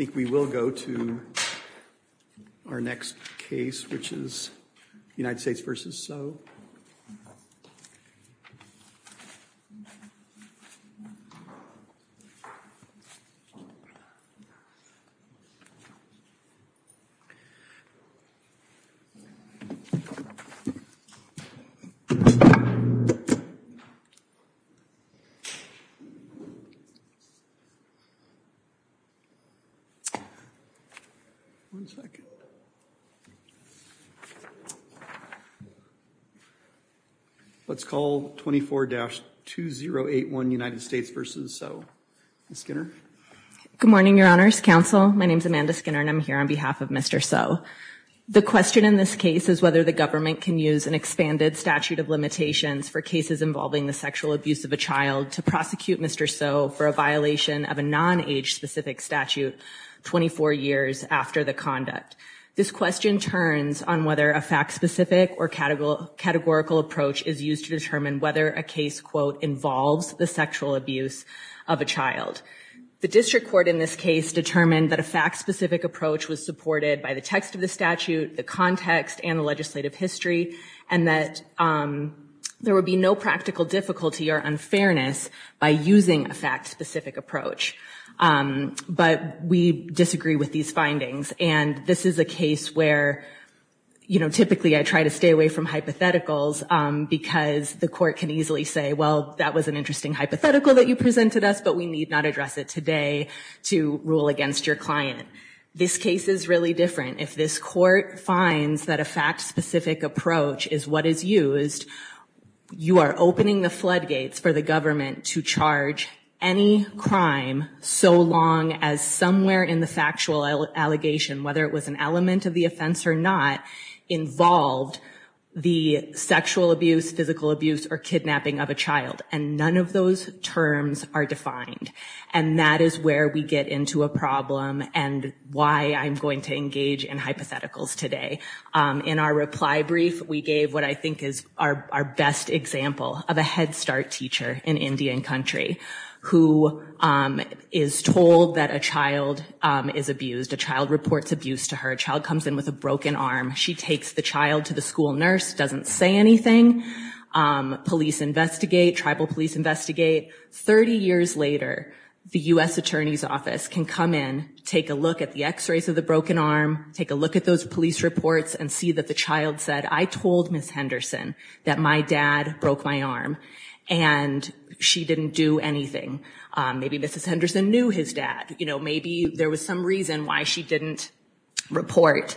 I think we will go to our next case, which is United States v. Tso. Let's call 24-2081 United States v. Tso. Ms. Skinner. Good morning, Your Honors Counsel. My name is Amanda Skinner and I'm here on behalf of Mr. Tso. The question in this case is whether the government can use an expanded statute of limitations for cases involving the sexual abuse of a child to prosecute Mr. Tso for a violation of a non-age specific statute 24 years after the conduct. This question turns on whether a fact-specific or categorical approach is used to determine whether a case, quote, involves the sexual abuse of a child. The district court in this case determined that a fact-specific approach was supported by the text of the statute, the context, and the legislative history, and that there would be no practical difficulty or unfairness by using a fact-specific approach. But we disagree with these findings, and this is a case where, you know, typically I try to stay away from hypotheticals because the court can easily say, well, that was an interesting hypothetical that you presented us, but we need not address it today to rule against your client. This case is really different. If this court finds that a fact-specific approach is what is used, you are opening the floodgates for the government to charge any crime so long as somewhere in the factual allegation, whether it was an element of the offense or not, involved the sexual abuse, physical abuse, or kidnapping of a child. And none of those terms are defined. And that is where we get into a problem and why I'm going to engage in hypotheticals today. In our reply brief, we gave what I think is our best example of a Head Start teacher in Indian Country who is told that a child is abused. A child reports abuse to her. A child comes in with a broken arm. She takes the child to the school nurse, doesn't say anything. Police investigate. Tribal police investigate. Thirty years later, the U.S. Attorney's Office can come in, take a look at the police reports, and see that the child said, I told Ms. Henderson that my dad broke my arm, and she didn't do anything. Maybe Mrs. Henderson knew his dad. Maybe there was some reason why she didn't report.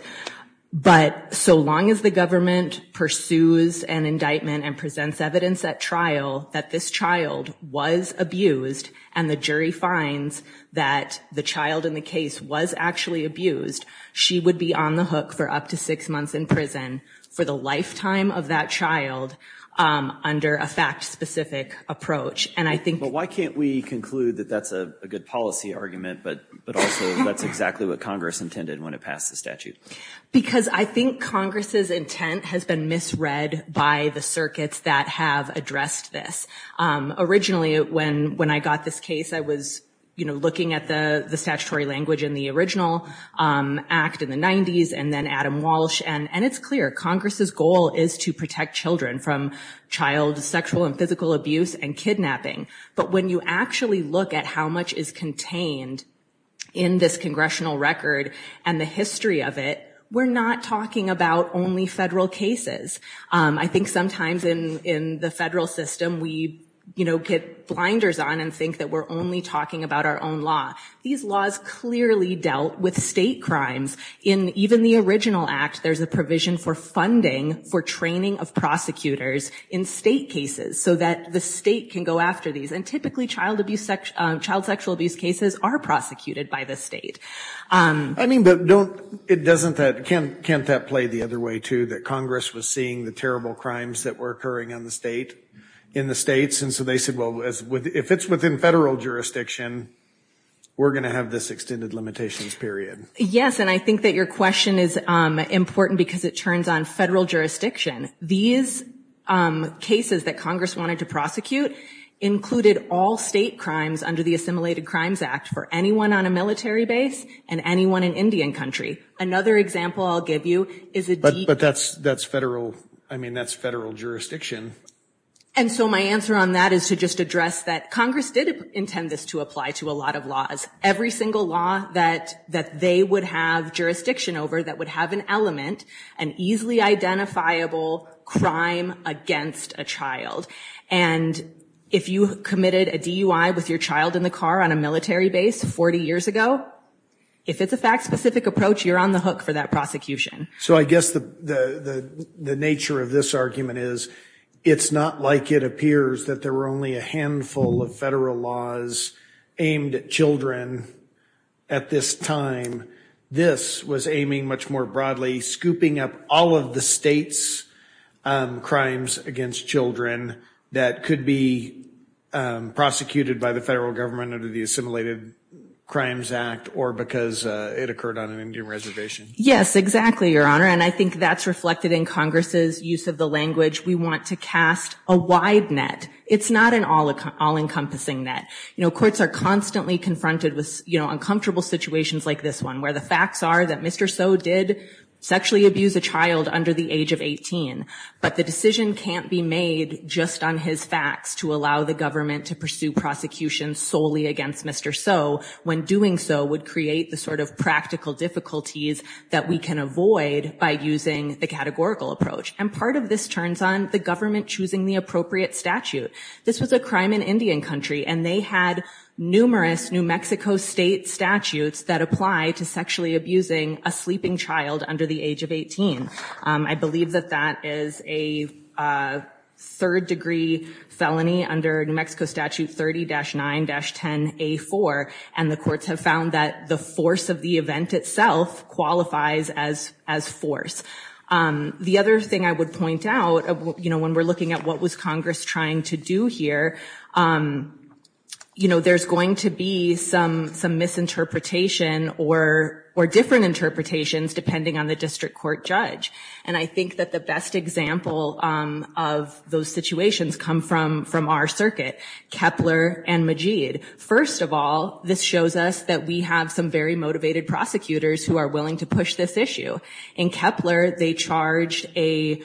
But so long as the government pursues an indictment and presents evidence at trial that this child was abused and the jury finds that the child in the case was actually abused, she would be on the list of defendants on the hook for up to six months in prison for the lifetime of that child under a fact-specific approach. And I think... But why can't we conclude that that's a good policy argument, but also that's exactly what Congress intended when it passed the statute? Because I think Congress's intent has been misread by the circuits that have addressed this. Originally, when I got this case, I was, you know, looking at the statutory language in the original act in the 90s, and then Adam Walsh. And it's clear, Congress's goal is to protect children from child sexual and physical abuse and kidnapping. But when you actually look at how much is contained in this congressional record and the history of it, we're not talking about only federal cases. I think sometimes in the federal system, we, you know, get blinders on and think that we're only talking about our own law. These laws clearly dealt with state crimes. In even the original act, there's a provision for funding for training of prosecutors in state cases so that the state can go after these. And typically, child sexual abuse cases are prosecuted by the state. I mean, but don't... It doesn't... Can't that play the other way, too, that Congress was seeing the terrible crimes that were occurring in the states, and so they said, well, if it's within federal jurisdiction, we're going to have this extended limitations period? Yes, and I think that your question is important because it turns on federal jurisdiction. These cases that Congress wanted to prosecute included all state crimes under the Assimilated Crimes Act for anyone on a military base and anyone in Indian country. Another example I'll give you is a... But that's federal... I mean, that's federal jurisdiction. And so my answer on that is to just address that Congress did intend this to apply to a lot of laws. Every single law that they would have jurisdiction over that would have an element, an easily identifiable crime against a child. And if you committed a DUI with your child in the car on a military base 40 years ago, if it's a fact-specific approach, you're on the hook for that prosecution. So I guess the nature of this argument is it's not like it appears that there were only a handful of federal laws aimed at children at this time. This was aiming much more broadly, scooping up all of the states' crimes against children that could be prosecuted by the federal government under the Assimilated Crimes Act or because it occurred on an Indian reservation. Yes, exactly, Your Honor. And I think that's reflected in Congress's use of the language. We want to cast a wide net. It's not an all-encompassing net. Courts are constantly confronted with uncomfortable situations like this one, where the facts are that Mr. Soe did sexually abuse a child under the age of 18. But the decision can't be made just on his facts to allow the government to pursue prosecution solely against Mr. Soe when doing so would create the sort of practical difficulties that we can avoid by using the categorical approach. And part of this turns on the government choosing the appropriate statute. This was a crime in Indian country, and they had numerous New Mexico state statutes that apply to sexually abusing a sleeping child under the age of 18. I believe that that is a third-degree felony under New Mexico Statute 30-9-10-A4, and the courts have found that the force of the event itself qualifies as force. The other thing I would point out, you know, when we're looking at what was Congress trying to do here, you know, there's going to be some misinterpretation or different interpretations, depending on the district court judge. And I think that the best example of those situations come from our circuit, Kepler and Majeed. First of all, this shows us that we have some very strong prosecutors and some very motivated prosecutors who are willing to push this issue. In Kepler, they charged a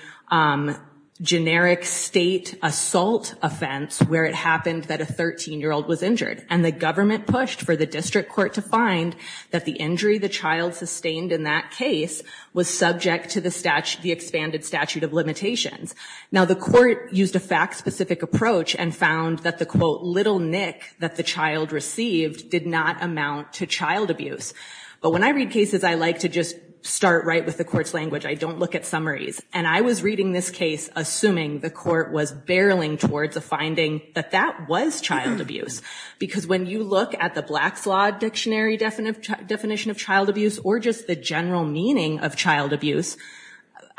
generic state assault offense where it happened that a 13-year-old was injured. And the government pushed for the district court to find that the injury the child sustained in that case was subject to the expanded statute of limitations. Now, the court used a fact-specific approach and found that the, quote, little nick that the child received did not amount to child abuse. But when I read cases, I like to just start right with the court's language. I don't look at summaries. And I was reading this case assuming the court was barreling towards a finding that that was child abuse. Because when you look at the Black's Law Dictionary definition of child abuse or just the general meaning of child abuse,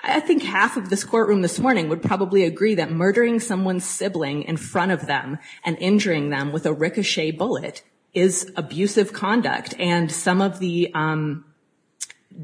I think half of this courtroom this morning would probably agree that injuring them with a ricochet bullet is abusive conduct. And some of the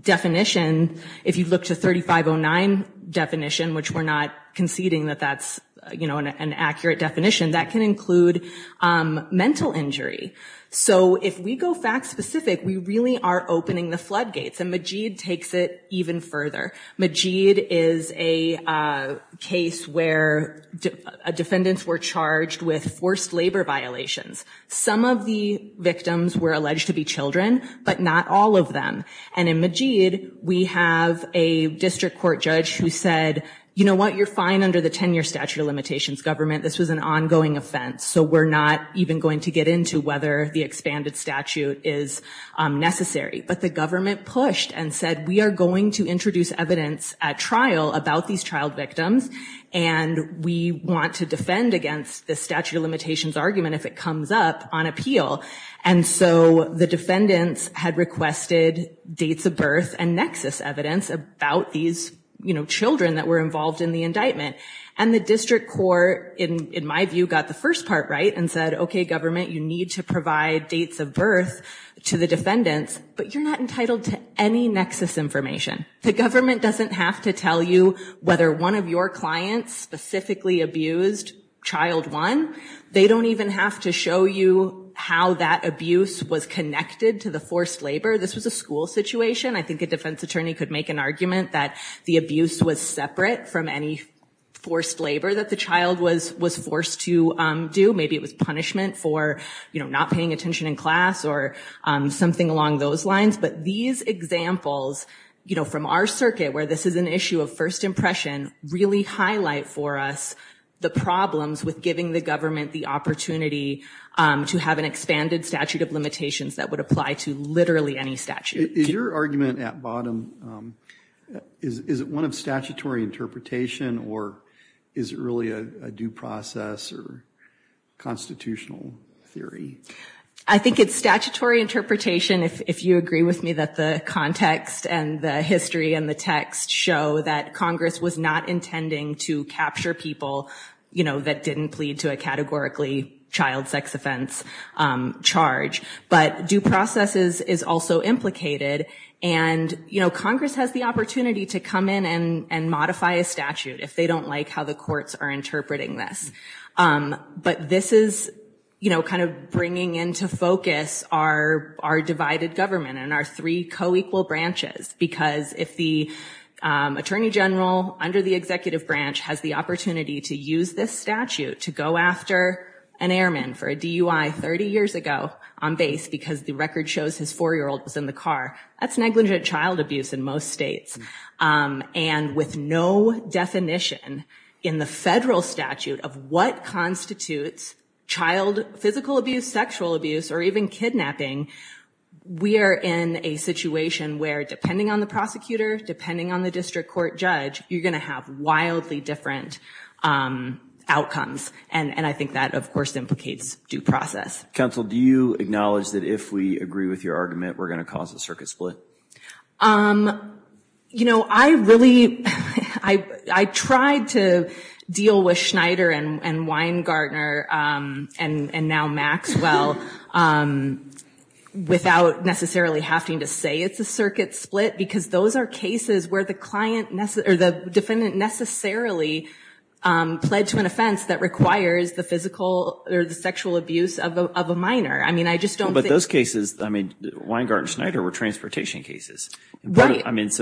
definition, if you look to 3509 definition, which we're not conceding that that's, you know, an accurate definition, that can include mental injury. So if we go fact-specific, we really are opening the floodgates. And Majeed takes it even further. Majeed is a case where defendants were charged with forced labor. And the court found that the child was charged with forced labor violations. Some of the victims were alleged to be children, but not all of them. And in Majeed, we have a district court judge who said, you know what, you're fine under the 10-year statute of limitations government. This was an ongoing offense. So we're not even going to get into whether the expanded statute is necessary. But the government pushed and said, we are going to introduce evidence at trial about these child victims. And we want to know the defendant's argument, if it comes up, on appeal. And so the defendants had requested dates of birth and nexus evidence about these, you know, children that were involved in the indictment. And the district court, in my view, got the first part right and said, okay, government, you need to provide dates of birth to the defendants, but you're not entitled to any nexus information. The government doesn't have to tell you whether one of your clients specifically abused child one. They don't even have to show you how that abuse was connected to the forced labor. This was a school situation. I think a defense attorney could make an argument that the abuse was separate from any forced labor that the child was forced to do. Maybe it was punishment for, you know, not paying attention in class or something along those lines. But these examples, you know, from our circuit, where this is an issue of first impression, really highlight for us the problems with giving the government the opportunity to have an expanded statute of limitations that would apply to literally any statute. Is your argument at bottom, is it one of statutory interpretation or is it really a due process or constitutional theory? I think it's statutory interpretation, if you agree with me that the context and the history and the text show that it's a constitutional statute, that Congress was not intending to capture people, you know, that didn't plead to a categorically child sex offense charge. But due processes is also implicated and, you know, Congress has the opportunity to come in and modify a statute if they don't like how the courts are interpreting this. But this is, you know, kind of bringing into focus our divided government and our three co-equal branches. Because if the attorney general under the executive branch has the opportunity to use this statute to go after an airman for a DUI 30 years ago on base, because the record shows his four-year-old was in the car, that's negligent child abuse in most states. And with no definition in the federal statute of what constitutes child physical abuse, sexual abuse or even kidnapping, we are in a situation where if you're a court judge, you're going to have wildly different outcomes. And I think that, of course, implicates due process. Counsel, do you acknowledge that if we agree with your argument, we're going to cause a circuit split? You know, I really, I tried to deal with Schneider and Weingartner and now Maxwell without necessarily having to say it's a circuit split, because those are cases where the defendant necessarily pled to an offense that requires the physical or the sexual abuse of a minor. I mean, I just don't think... But those cases, I mean, Weingartner and Schneider were transportation cases. So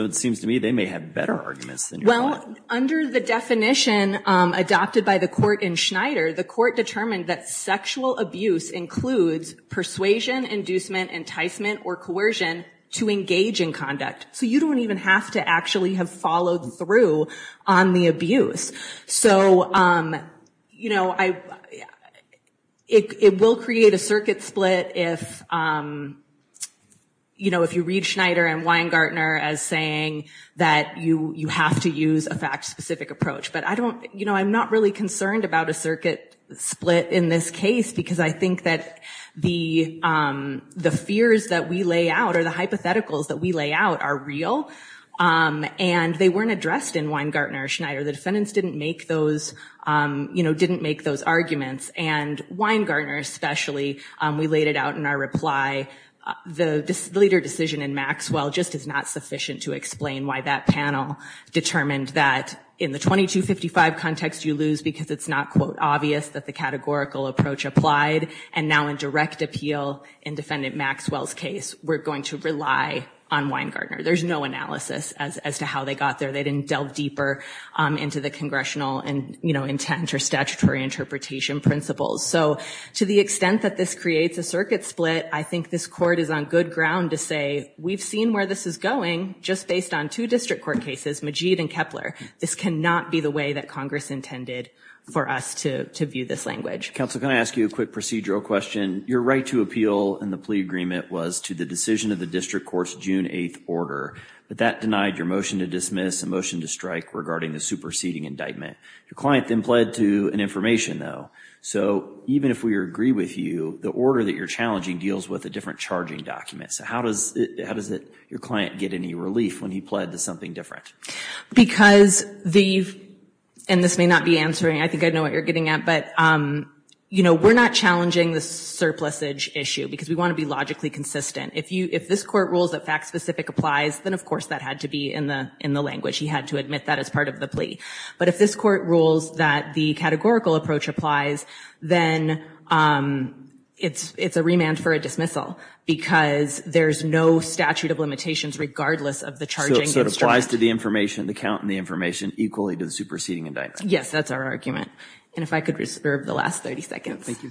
it seems to me they may have better arguments than you. Well, under the definition adopted by the court in Schneider, the court determined that sexual abuse includes persuasion, inducement, enticement or coercion to engage in conduct. So you don't even have to actually have followed through on the abuse. So, you know, it will create a circuit split if, you know, if you read Schneider and Weingartner as saying that you have to use a fact-specific approach. But I don't, you know, I'm not really concerned about a circuit split in this case, because I think that the fears that we lay out or the hypotheticals that we lay out are real. And they weren't addressed in Weingartner or Schneider. The defendants didn't make those, you know, didn't make those arguments. And Weingartner especially, we laid it out in our reply, the leader decision in Maxwell just is not sufficient to explain why that panel determined that in the 2255 context you lose because it's not, quote, obvious that the categorical approach applied. And now in direct appeal in Defendant Maxwell's case, we're going to rely on Weingartner. There's no analysis as to how they got there. They didn't delve deeper into the congressional, you know, intent or statutory interpretation principles. So to the extent that this creates a circuit split, I think this court is on good ground to say, we've seen where this is going just based on two district court cases, Majeed and Kepler. This cannot be the way that Congress intended for us to view this language. Counsel, can I ask you a quick procedural question? Your right to appeal in the plea agreement was to the decision of the district court's June 8th order. But that denied your motion to dismiss, a motion to strike regarding the superseding indictment. Your client then pled to an information, though. So even if we agree with you, the order that you're challenging deals with a different charging document. So how does it, how does it, your client get any relief when he pled to something different? Because the, and this may not be answering, I think I know what you're getting at, but, you know, we're not challenging the surplusage issue because we want to be logically consistent. If you, if this court rules that fact specific applies, then of course that had to be in the, in the language. He had to admit that as part of the plea. But if this court rules that the categorical approach applies, then it's, it's a remand for a dismissal because there's no statute of limitations regardless of the charging instrument. So it applies to the information, the count and the information equally to the superseding indictment. Yes, that's our argument. And if I could reserve the last 30 seconds. Thank you.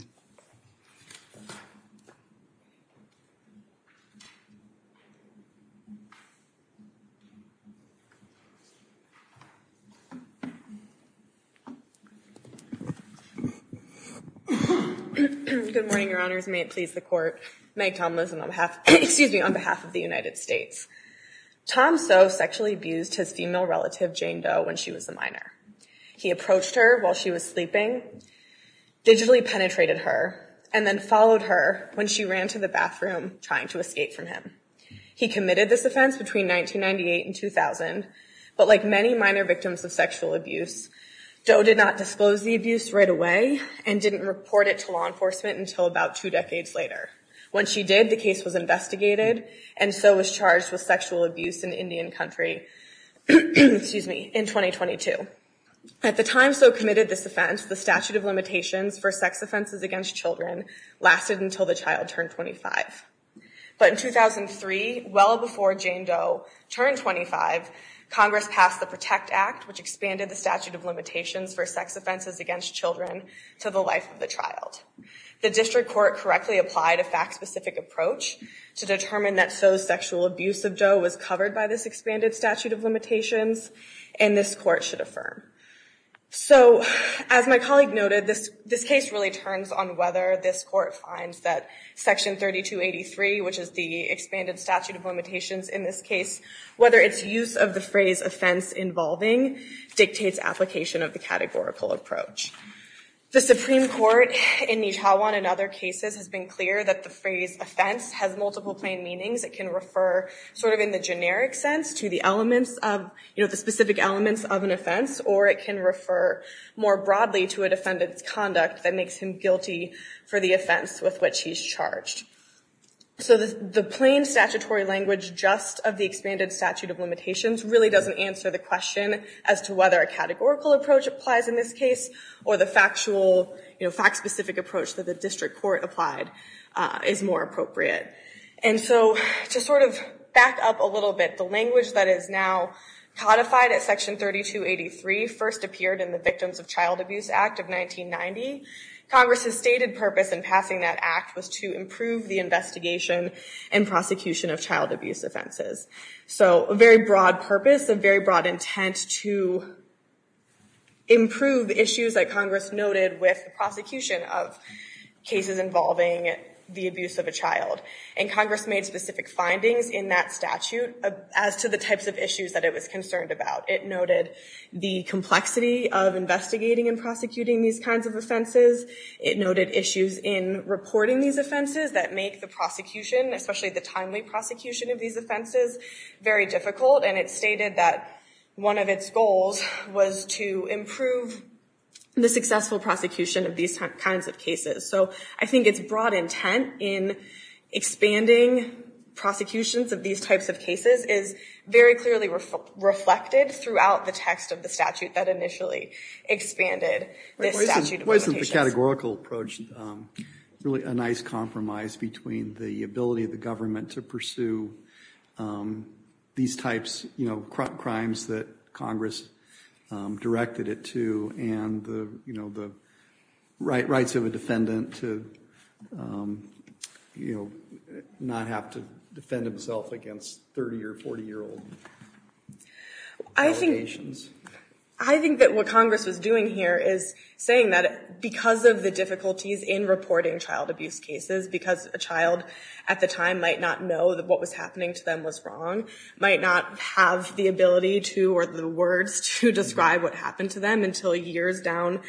Good morning, your honors. May it please the court. Meg Tomlinson on behalf, excuse me, on behalf of the United States. Tom So sexually abused his female relative Jane Doe when she was a minor. He approached her while she was sleeping, digitally penetrated her, and then followed her when she ran to the bathroom trying to escape from him. He committed this offense between 1998 and 2000. But like many minor victims of sexual abuse, Doe did not disclose the abuse right away and didn't report it to law enforcement until about two decades later. When she did, the case was investigated and So was charged with sexual abuse in Indian country, excuse me, in 2022. At the time So committed this offense, the statute of limitations for sex offenses against children lasted until the child turned 25. But in 2003, well before Jane Doe turned 25, Congress passed the Protect Act, which expanded the statute of limitations for sex offenses against children to the life of the child. The district court correctly applied a fact specific approach to determine that So's sexual abuse of Doe was covered by this expanded statute of limitations, and this court should affirm. So as my colleague noted, this case really turns on whether this court finds that Section 3283, which is the expanded statute of limitations in this case, whether its use of the phrase offense involving dictates application of the categorical approach. The Supreme Court in Nijhawan and other cases has been clear that the phrase offense has multiple plain meanings. It can refer to the generic sense to the specific elements of an offense, or it can refer more broadly to a defendant's conduct that makes him guilty for the offense with which he's charged. So the plain statutory language just of the expanded statute of limitations really doesn't answer the question as to whether a categorical approach applies in this case, or the factual, fact specific approach that the district court applied is more appropriate. And so to sort of back up a little bit on the language that is now codified at Section 3283 first appeared in the Victims of Child Abuse Act of 1990. Congress' stated purpose in passing that act was to improve the investigation and prosecution of child abuse offenses. So a very broad purpose, a very broad intent to improve issues that Congress noted with the prosecution of cases involving the child abuse offense. And it also noted in that statute as to the types of issues that it was concerned about. It noted the complexity of investigating and prosecuting these kinds of offenses. It noted issues in reporting these offenses that make the prosecution, especially the timely prosecution of these offenses, very difficult. And it stated that one of its goals was to improve the successful prosecution of these kinds of cases. So I think it's broad intent in expanding the scope of the statute and the scope of the statute. And the scope of the statute for these types of cases is very clearly reflected throughout the text of the statute that initially expanded this statute of limitations. Why isn't the categorical approach really a nice compromise between the ability of the government to pursue these types of crimes that Congress directed it to, and the rights of a defendant to not have to defend himself against the 30 or 40-year-old limitations? I think that what Congress was doing here is saying that because of the difficulties in reporting child abuse cases, because a child at the time might not know that what was happening to them was wrong, might not have the ability to or the words to describe what happened to them until years down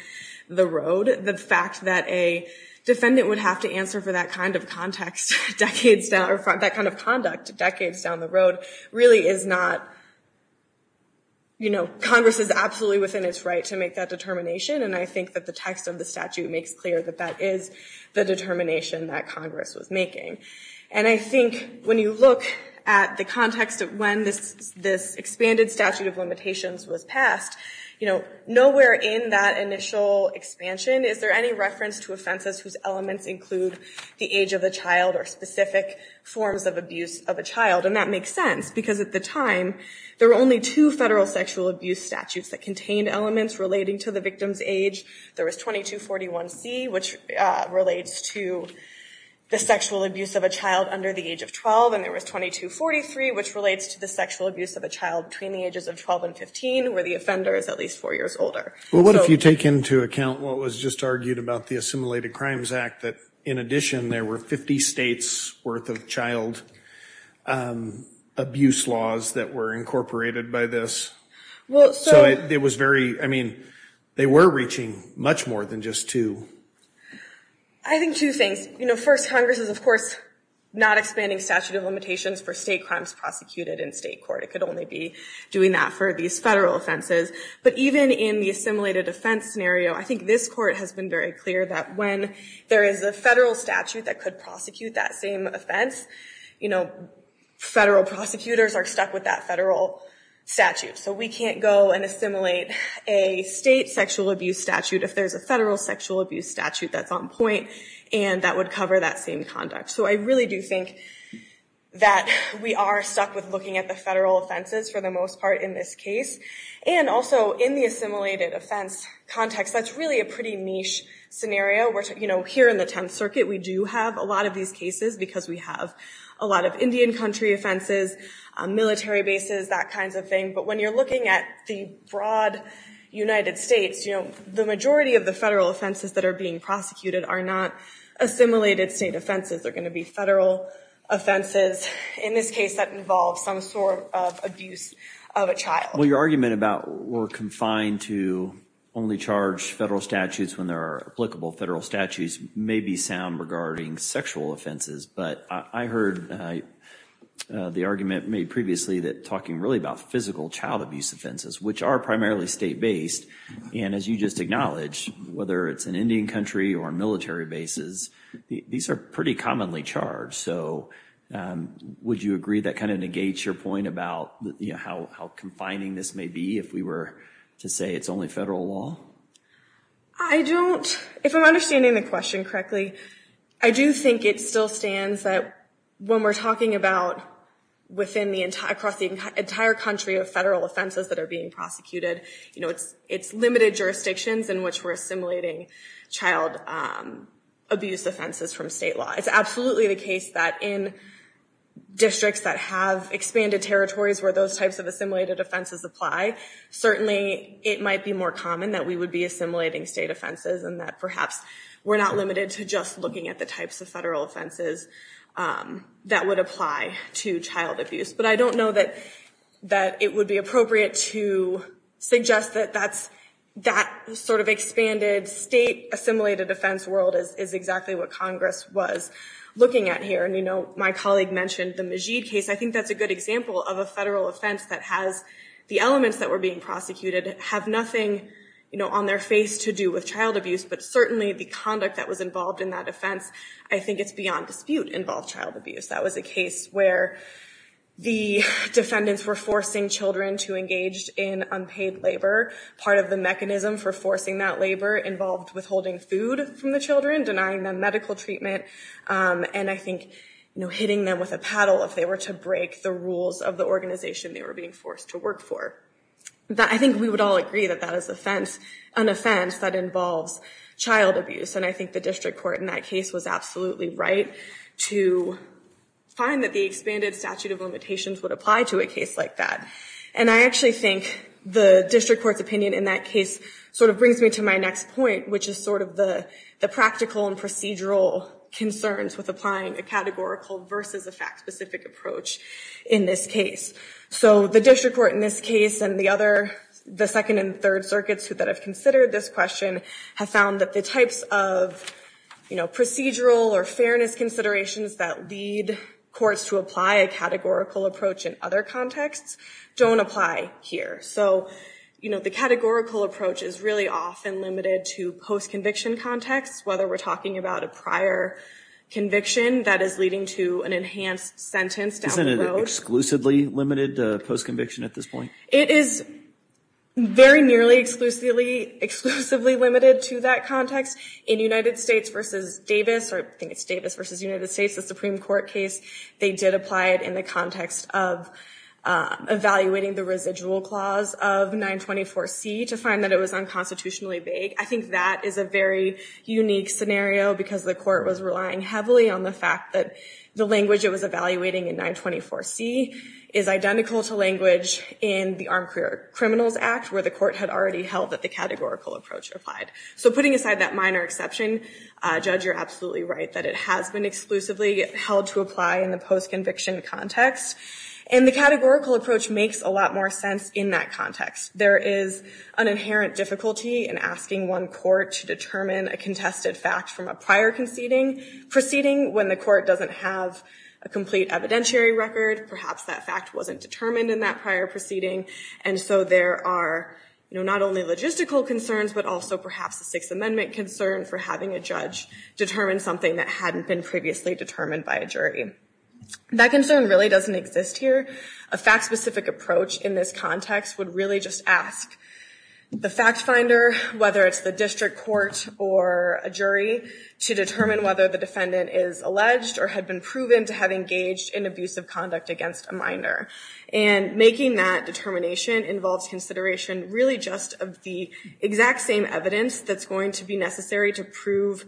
the road, the fact that a defendant would have to answer for that kind of context decades down the road really is not, you know, Congress is absolutely within its right to make that determination. And I think that the text of the statute makes clear that that is the determination that Congress was making. And I think when you look at the context of when this expanded statute of limitations was passed, you know, nowhere in that statute did it say the age of the child or specific forms of abuse of a child. And that makes sense, because at the time there were only two federal sexual abuse statutes that contained elements relating to the victim's age. There was 2241C, which relates to the sexual abuse of a child under the age of 12, and there was 2243, which relates to the sexual abuse of a child between the ages of 12 and 15, where the offender is at least four years older. Well, what if you take into account what was just argued about the Assimilated Crimes Act, that in addition there were 50 states' worth of child abuse laws that were incorporated by this? So it was very, I mean, they were reaching much more than just two. I think two things. You know, first, Congress is, of course, not expanding statute of limitations for state crimes prosecuted in state court. It could only be doing that for these federal offenses. But even in the assimilated offense scenario, I think this is very clear that when there is a federal statute that could prosecute that same offense, you know, federal prosecutors are stuck with that federal statute. So we can't go and assimilate a state sexual abuse statute if there's a federal sexual abuse statute that's on point and that would cover that same conduct. So I really do think that we are stuck with looking at the federal offenses for the most part in this case. And also, in the assimilated offense context, that's really a pretty niche scenario. You know, here in the Tenth Circuit, we do have a lot of these cases because we have a lot of Indian country offenses, military bases, that kind of thing. But when you're looking at the broad United States, you know, the majority of the federal offenses that are being prosecuted are not assimilated state offenses. They're going to be federal offenses. In this case, that involves some sort of abuse of a child. Well, your argument about we're confined to only charge federal statutes when there are applicable federal statutes may be sound regarding sexual offenses. But I heard the argument made previously that talking really about physical child abuse offenses, which are primarily state based. And as you just acknowledged, whether it's an Indian country or military bases, these are pretty commonly charged. So would you agree that kind of negates your point about, you know, how confining state offenses may be if we were to say it's only federal law? I don't. If I'm understanding the question correctly, I do think it still stands that when we're talking about within the entire country of federal offenses that are being prosecuted, you know, it's limited jurisdictions in which we're assimilating child abuse offenses from state law. It's absolutely the case that in districts that have expanded territories where those types of assimilated offenses apply, certainly it might be more common that we would be assimilating state offenses and that perhaps we're not limited to just looking at the types of federal offenses that would apply to child abuse. But I don't know that it would be appropriate to suggest that that sort of expanded state assimilated offense world is exactly what Congress was looking at here. And, you know, my colleague mentioned the Majeed case. I think that's a good example of a case where an offense that has the elements that were being prosecuted have nothing, you know, on their face to do with child abuse. But certainly the conduct that was involved in that offense, I think it's beyond dispute involved child abuse. That was a case where the defendants were forcing children to engage in unpaid labor. Part of the mechanism for forcing that labor involved withholding food from the children, denying them medical treatment, and I think, you know, hitting them with a paddle if they were to break the rules of the organization they were being forced to work for. I think we would all agree that that is an offense that involves child abuse. And I think the district court in that case was absolutely right to find that the expanded statute of limitations would apply to a case like that. And I actually think the district court's opinion in that case sort of brings me to my next point, which is sort of the practical and fact-specific approach in this case. So the district court in this case and the other, the second and third circuits that have considered this question have found that the types of, you know, procedural or fairness considerations that lead courts to apply a categorical approach in other contexts don't apply here. So, you know, the categorical approach is really often limited to post-conviction contexts, whether we're talking about a prior conviction that is leading to an enhanced sentence down the road. Isn't it exclusively limited to post-conviction at this point? It is very nearly exclusively limited to that context. In United States v. Davis, or I think it's Davis v. United States, the Supreme Court case, they did apply it in the context of evaluating the residual clause of 924C to find that it was unconstitutionally vague. I think that is a very unique scenario because the court was relying heavily on the fact that the language it was evaluating in 924C is identical to language in the Armed Career Criminals Act where the court had already held that the categorical approach applied. So putting aside that minor exception, Judge, you're absolutely right that it has been exclusively held to apply in the post-conviction context. And the categorical approach makes a lot more sense in that context. There is an inherent difficulty in asking one court to determine a contested fact from a prior proceeding when the court doesn't have a complete evidentiary record. Perhaps that fact wasn't determined in that prior proceeding. And so there are not only logistical concerns, but also perhaps a Sixth Amendment concern for having a judge determine something that hadn't been previously determined by a jury. That concern really doesn't exist here. A fact-specific approach in this context would really just ask the fact-finder, whether it's the district court or a jury, to determine whether the defendant is alleged or had been proven to have engaged in abusive conduct against a minor. And making that determination involves consideration really just of the exact same evidence that's going to be necessary to prove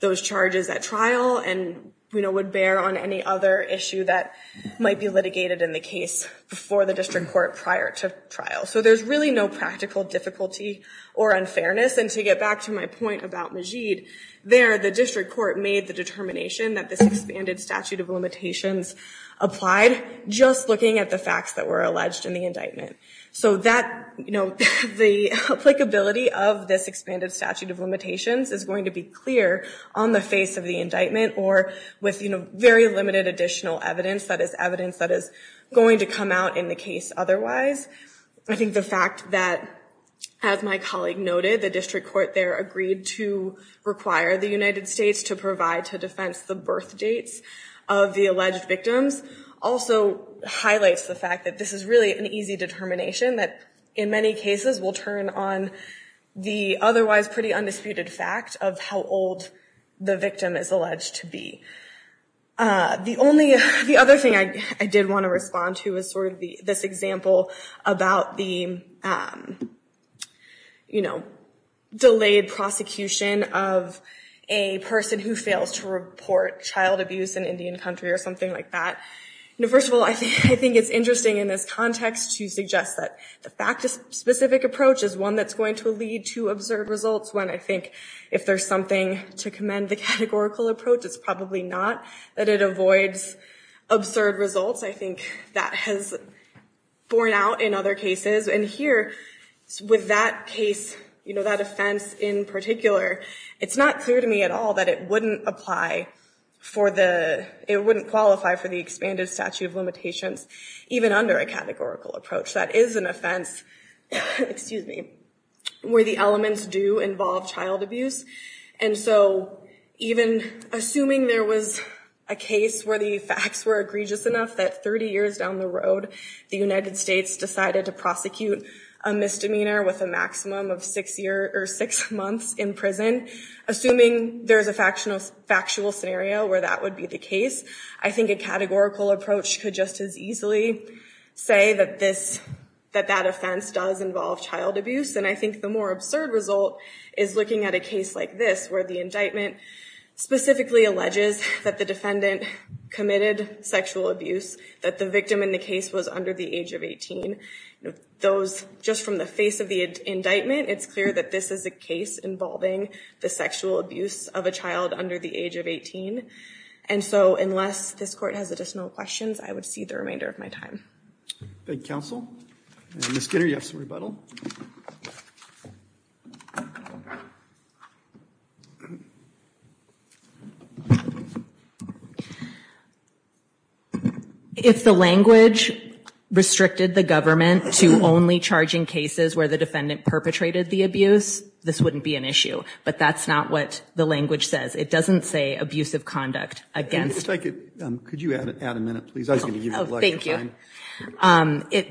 those charges at trial and would bear on any other issue that might be litigated in the case before the district court prior to trial. So there's really no practical difficulty or unfairness. And to get back to my point about Majeed, there the district court made the determination that this expanded statute of limitations applied just looking at the facts that were alleged in the indictment. So that, you know, the applicability of this expanded statute of limitations is going to be clear on the face of the indictment or with, you know, very limited additional evidence that is evidence that is going to come out in the case otherwise. I think the fact that, as my colleague noted, the district court there agreed to require the United States to provide to defense the birth dates of the alleged victims also highlights the fact that this is really an easy determination that in many cases will turn on the otherwise pretty undisputed fact of how old the victim is alleged to be. The only, the other thing I did want to respond to is sort of this example about the, you know, delayed prosecution of a person who fails to report child abuse in Indian country or something like that. First of all, I think it's interesting in this context to suggest that the fact of specific approach is one that's going to lead to absurd results when I think if there's something to commend the categorical approach, it's probably not that it avoids absurd results. I think that has borne out in other cases. And here, with that case, you know, that offense in particular, it's not clear to me at all that it wouldn't apply for the, it wouldn't qualify for the expanded statute of limitations even under a categorical approach. That is an offense, excuse me, where the elements do involve child abuse. And so, you know, it's not clear to me at all that it would apply. So even assuming there was a case where the facts were egregious enough that 30 years down the road the United States decided to prosecute a misdemeanor with a maximum of six year or six months in prison, assuming there's a factual scenario where that would be the case, I think a categorical approach could just as easily say that this, that that offense does involve child abuse. And I think the more absurd result is looking at a case like this where the indictment specifically alleges that the defendant committed sexual abuse, that the victim in the case was under the age of 18. Those, just from the face of the indictment, it's clear that this is a case involving the sexual abuse of a child under the age of 18. And so, unless this court has additional questions, I would cede the remainder of my time. Thank you, counsel. Ms. Skinner, you have some rebuttal. Thank you. If the language restricted the government to only charging cases where the defendant perpetrated the abuse, this wouldn't be an issue. But that's not what the language says. It doesn't say abusive conduct against... If I could, could you add a minute, please? I was going to give you a break. Thank you.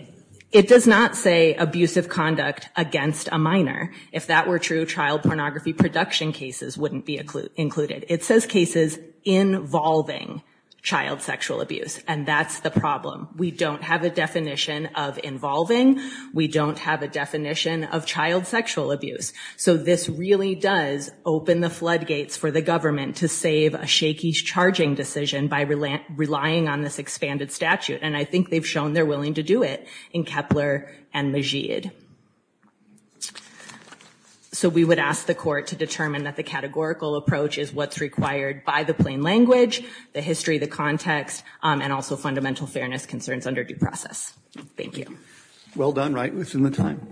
It does not say abusive conduct against a minor. If that were true, child pornography production cases would be included. It says cases involving child sexual abuse. And that's the problem. We don't have a definition of involving. We don't have a definition of child sexual abuse. So this really does open the floodgates for the government to save a shaky charging decision by relying on this expanded statute. And I think they've shown they're willing to do it in Kepler and Majeed. So we would ask the court to determine that the categorical approach is what's required by the plain language, the history, the context, and also fundamental fairness concerns under due process. Thank you. Well done. Right within the time.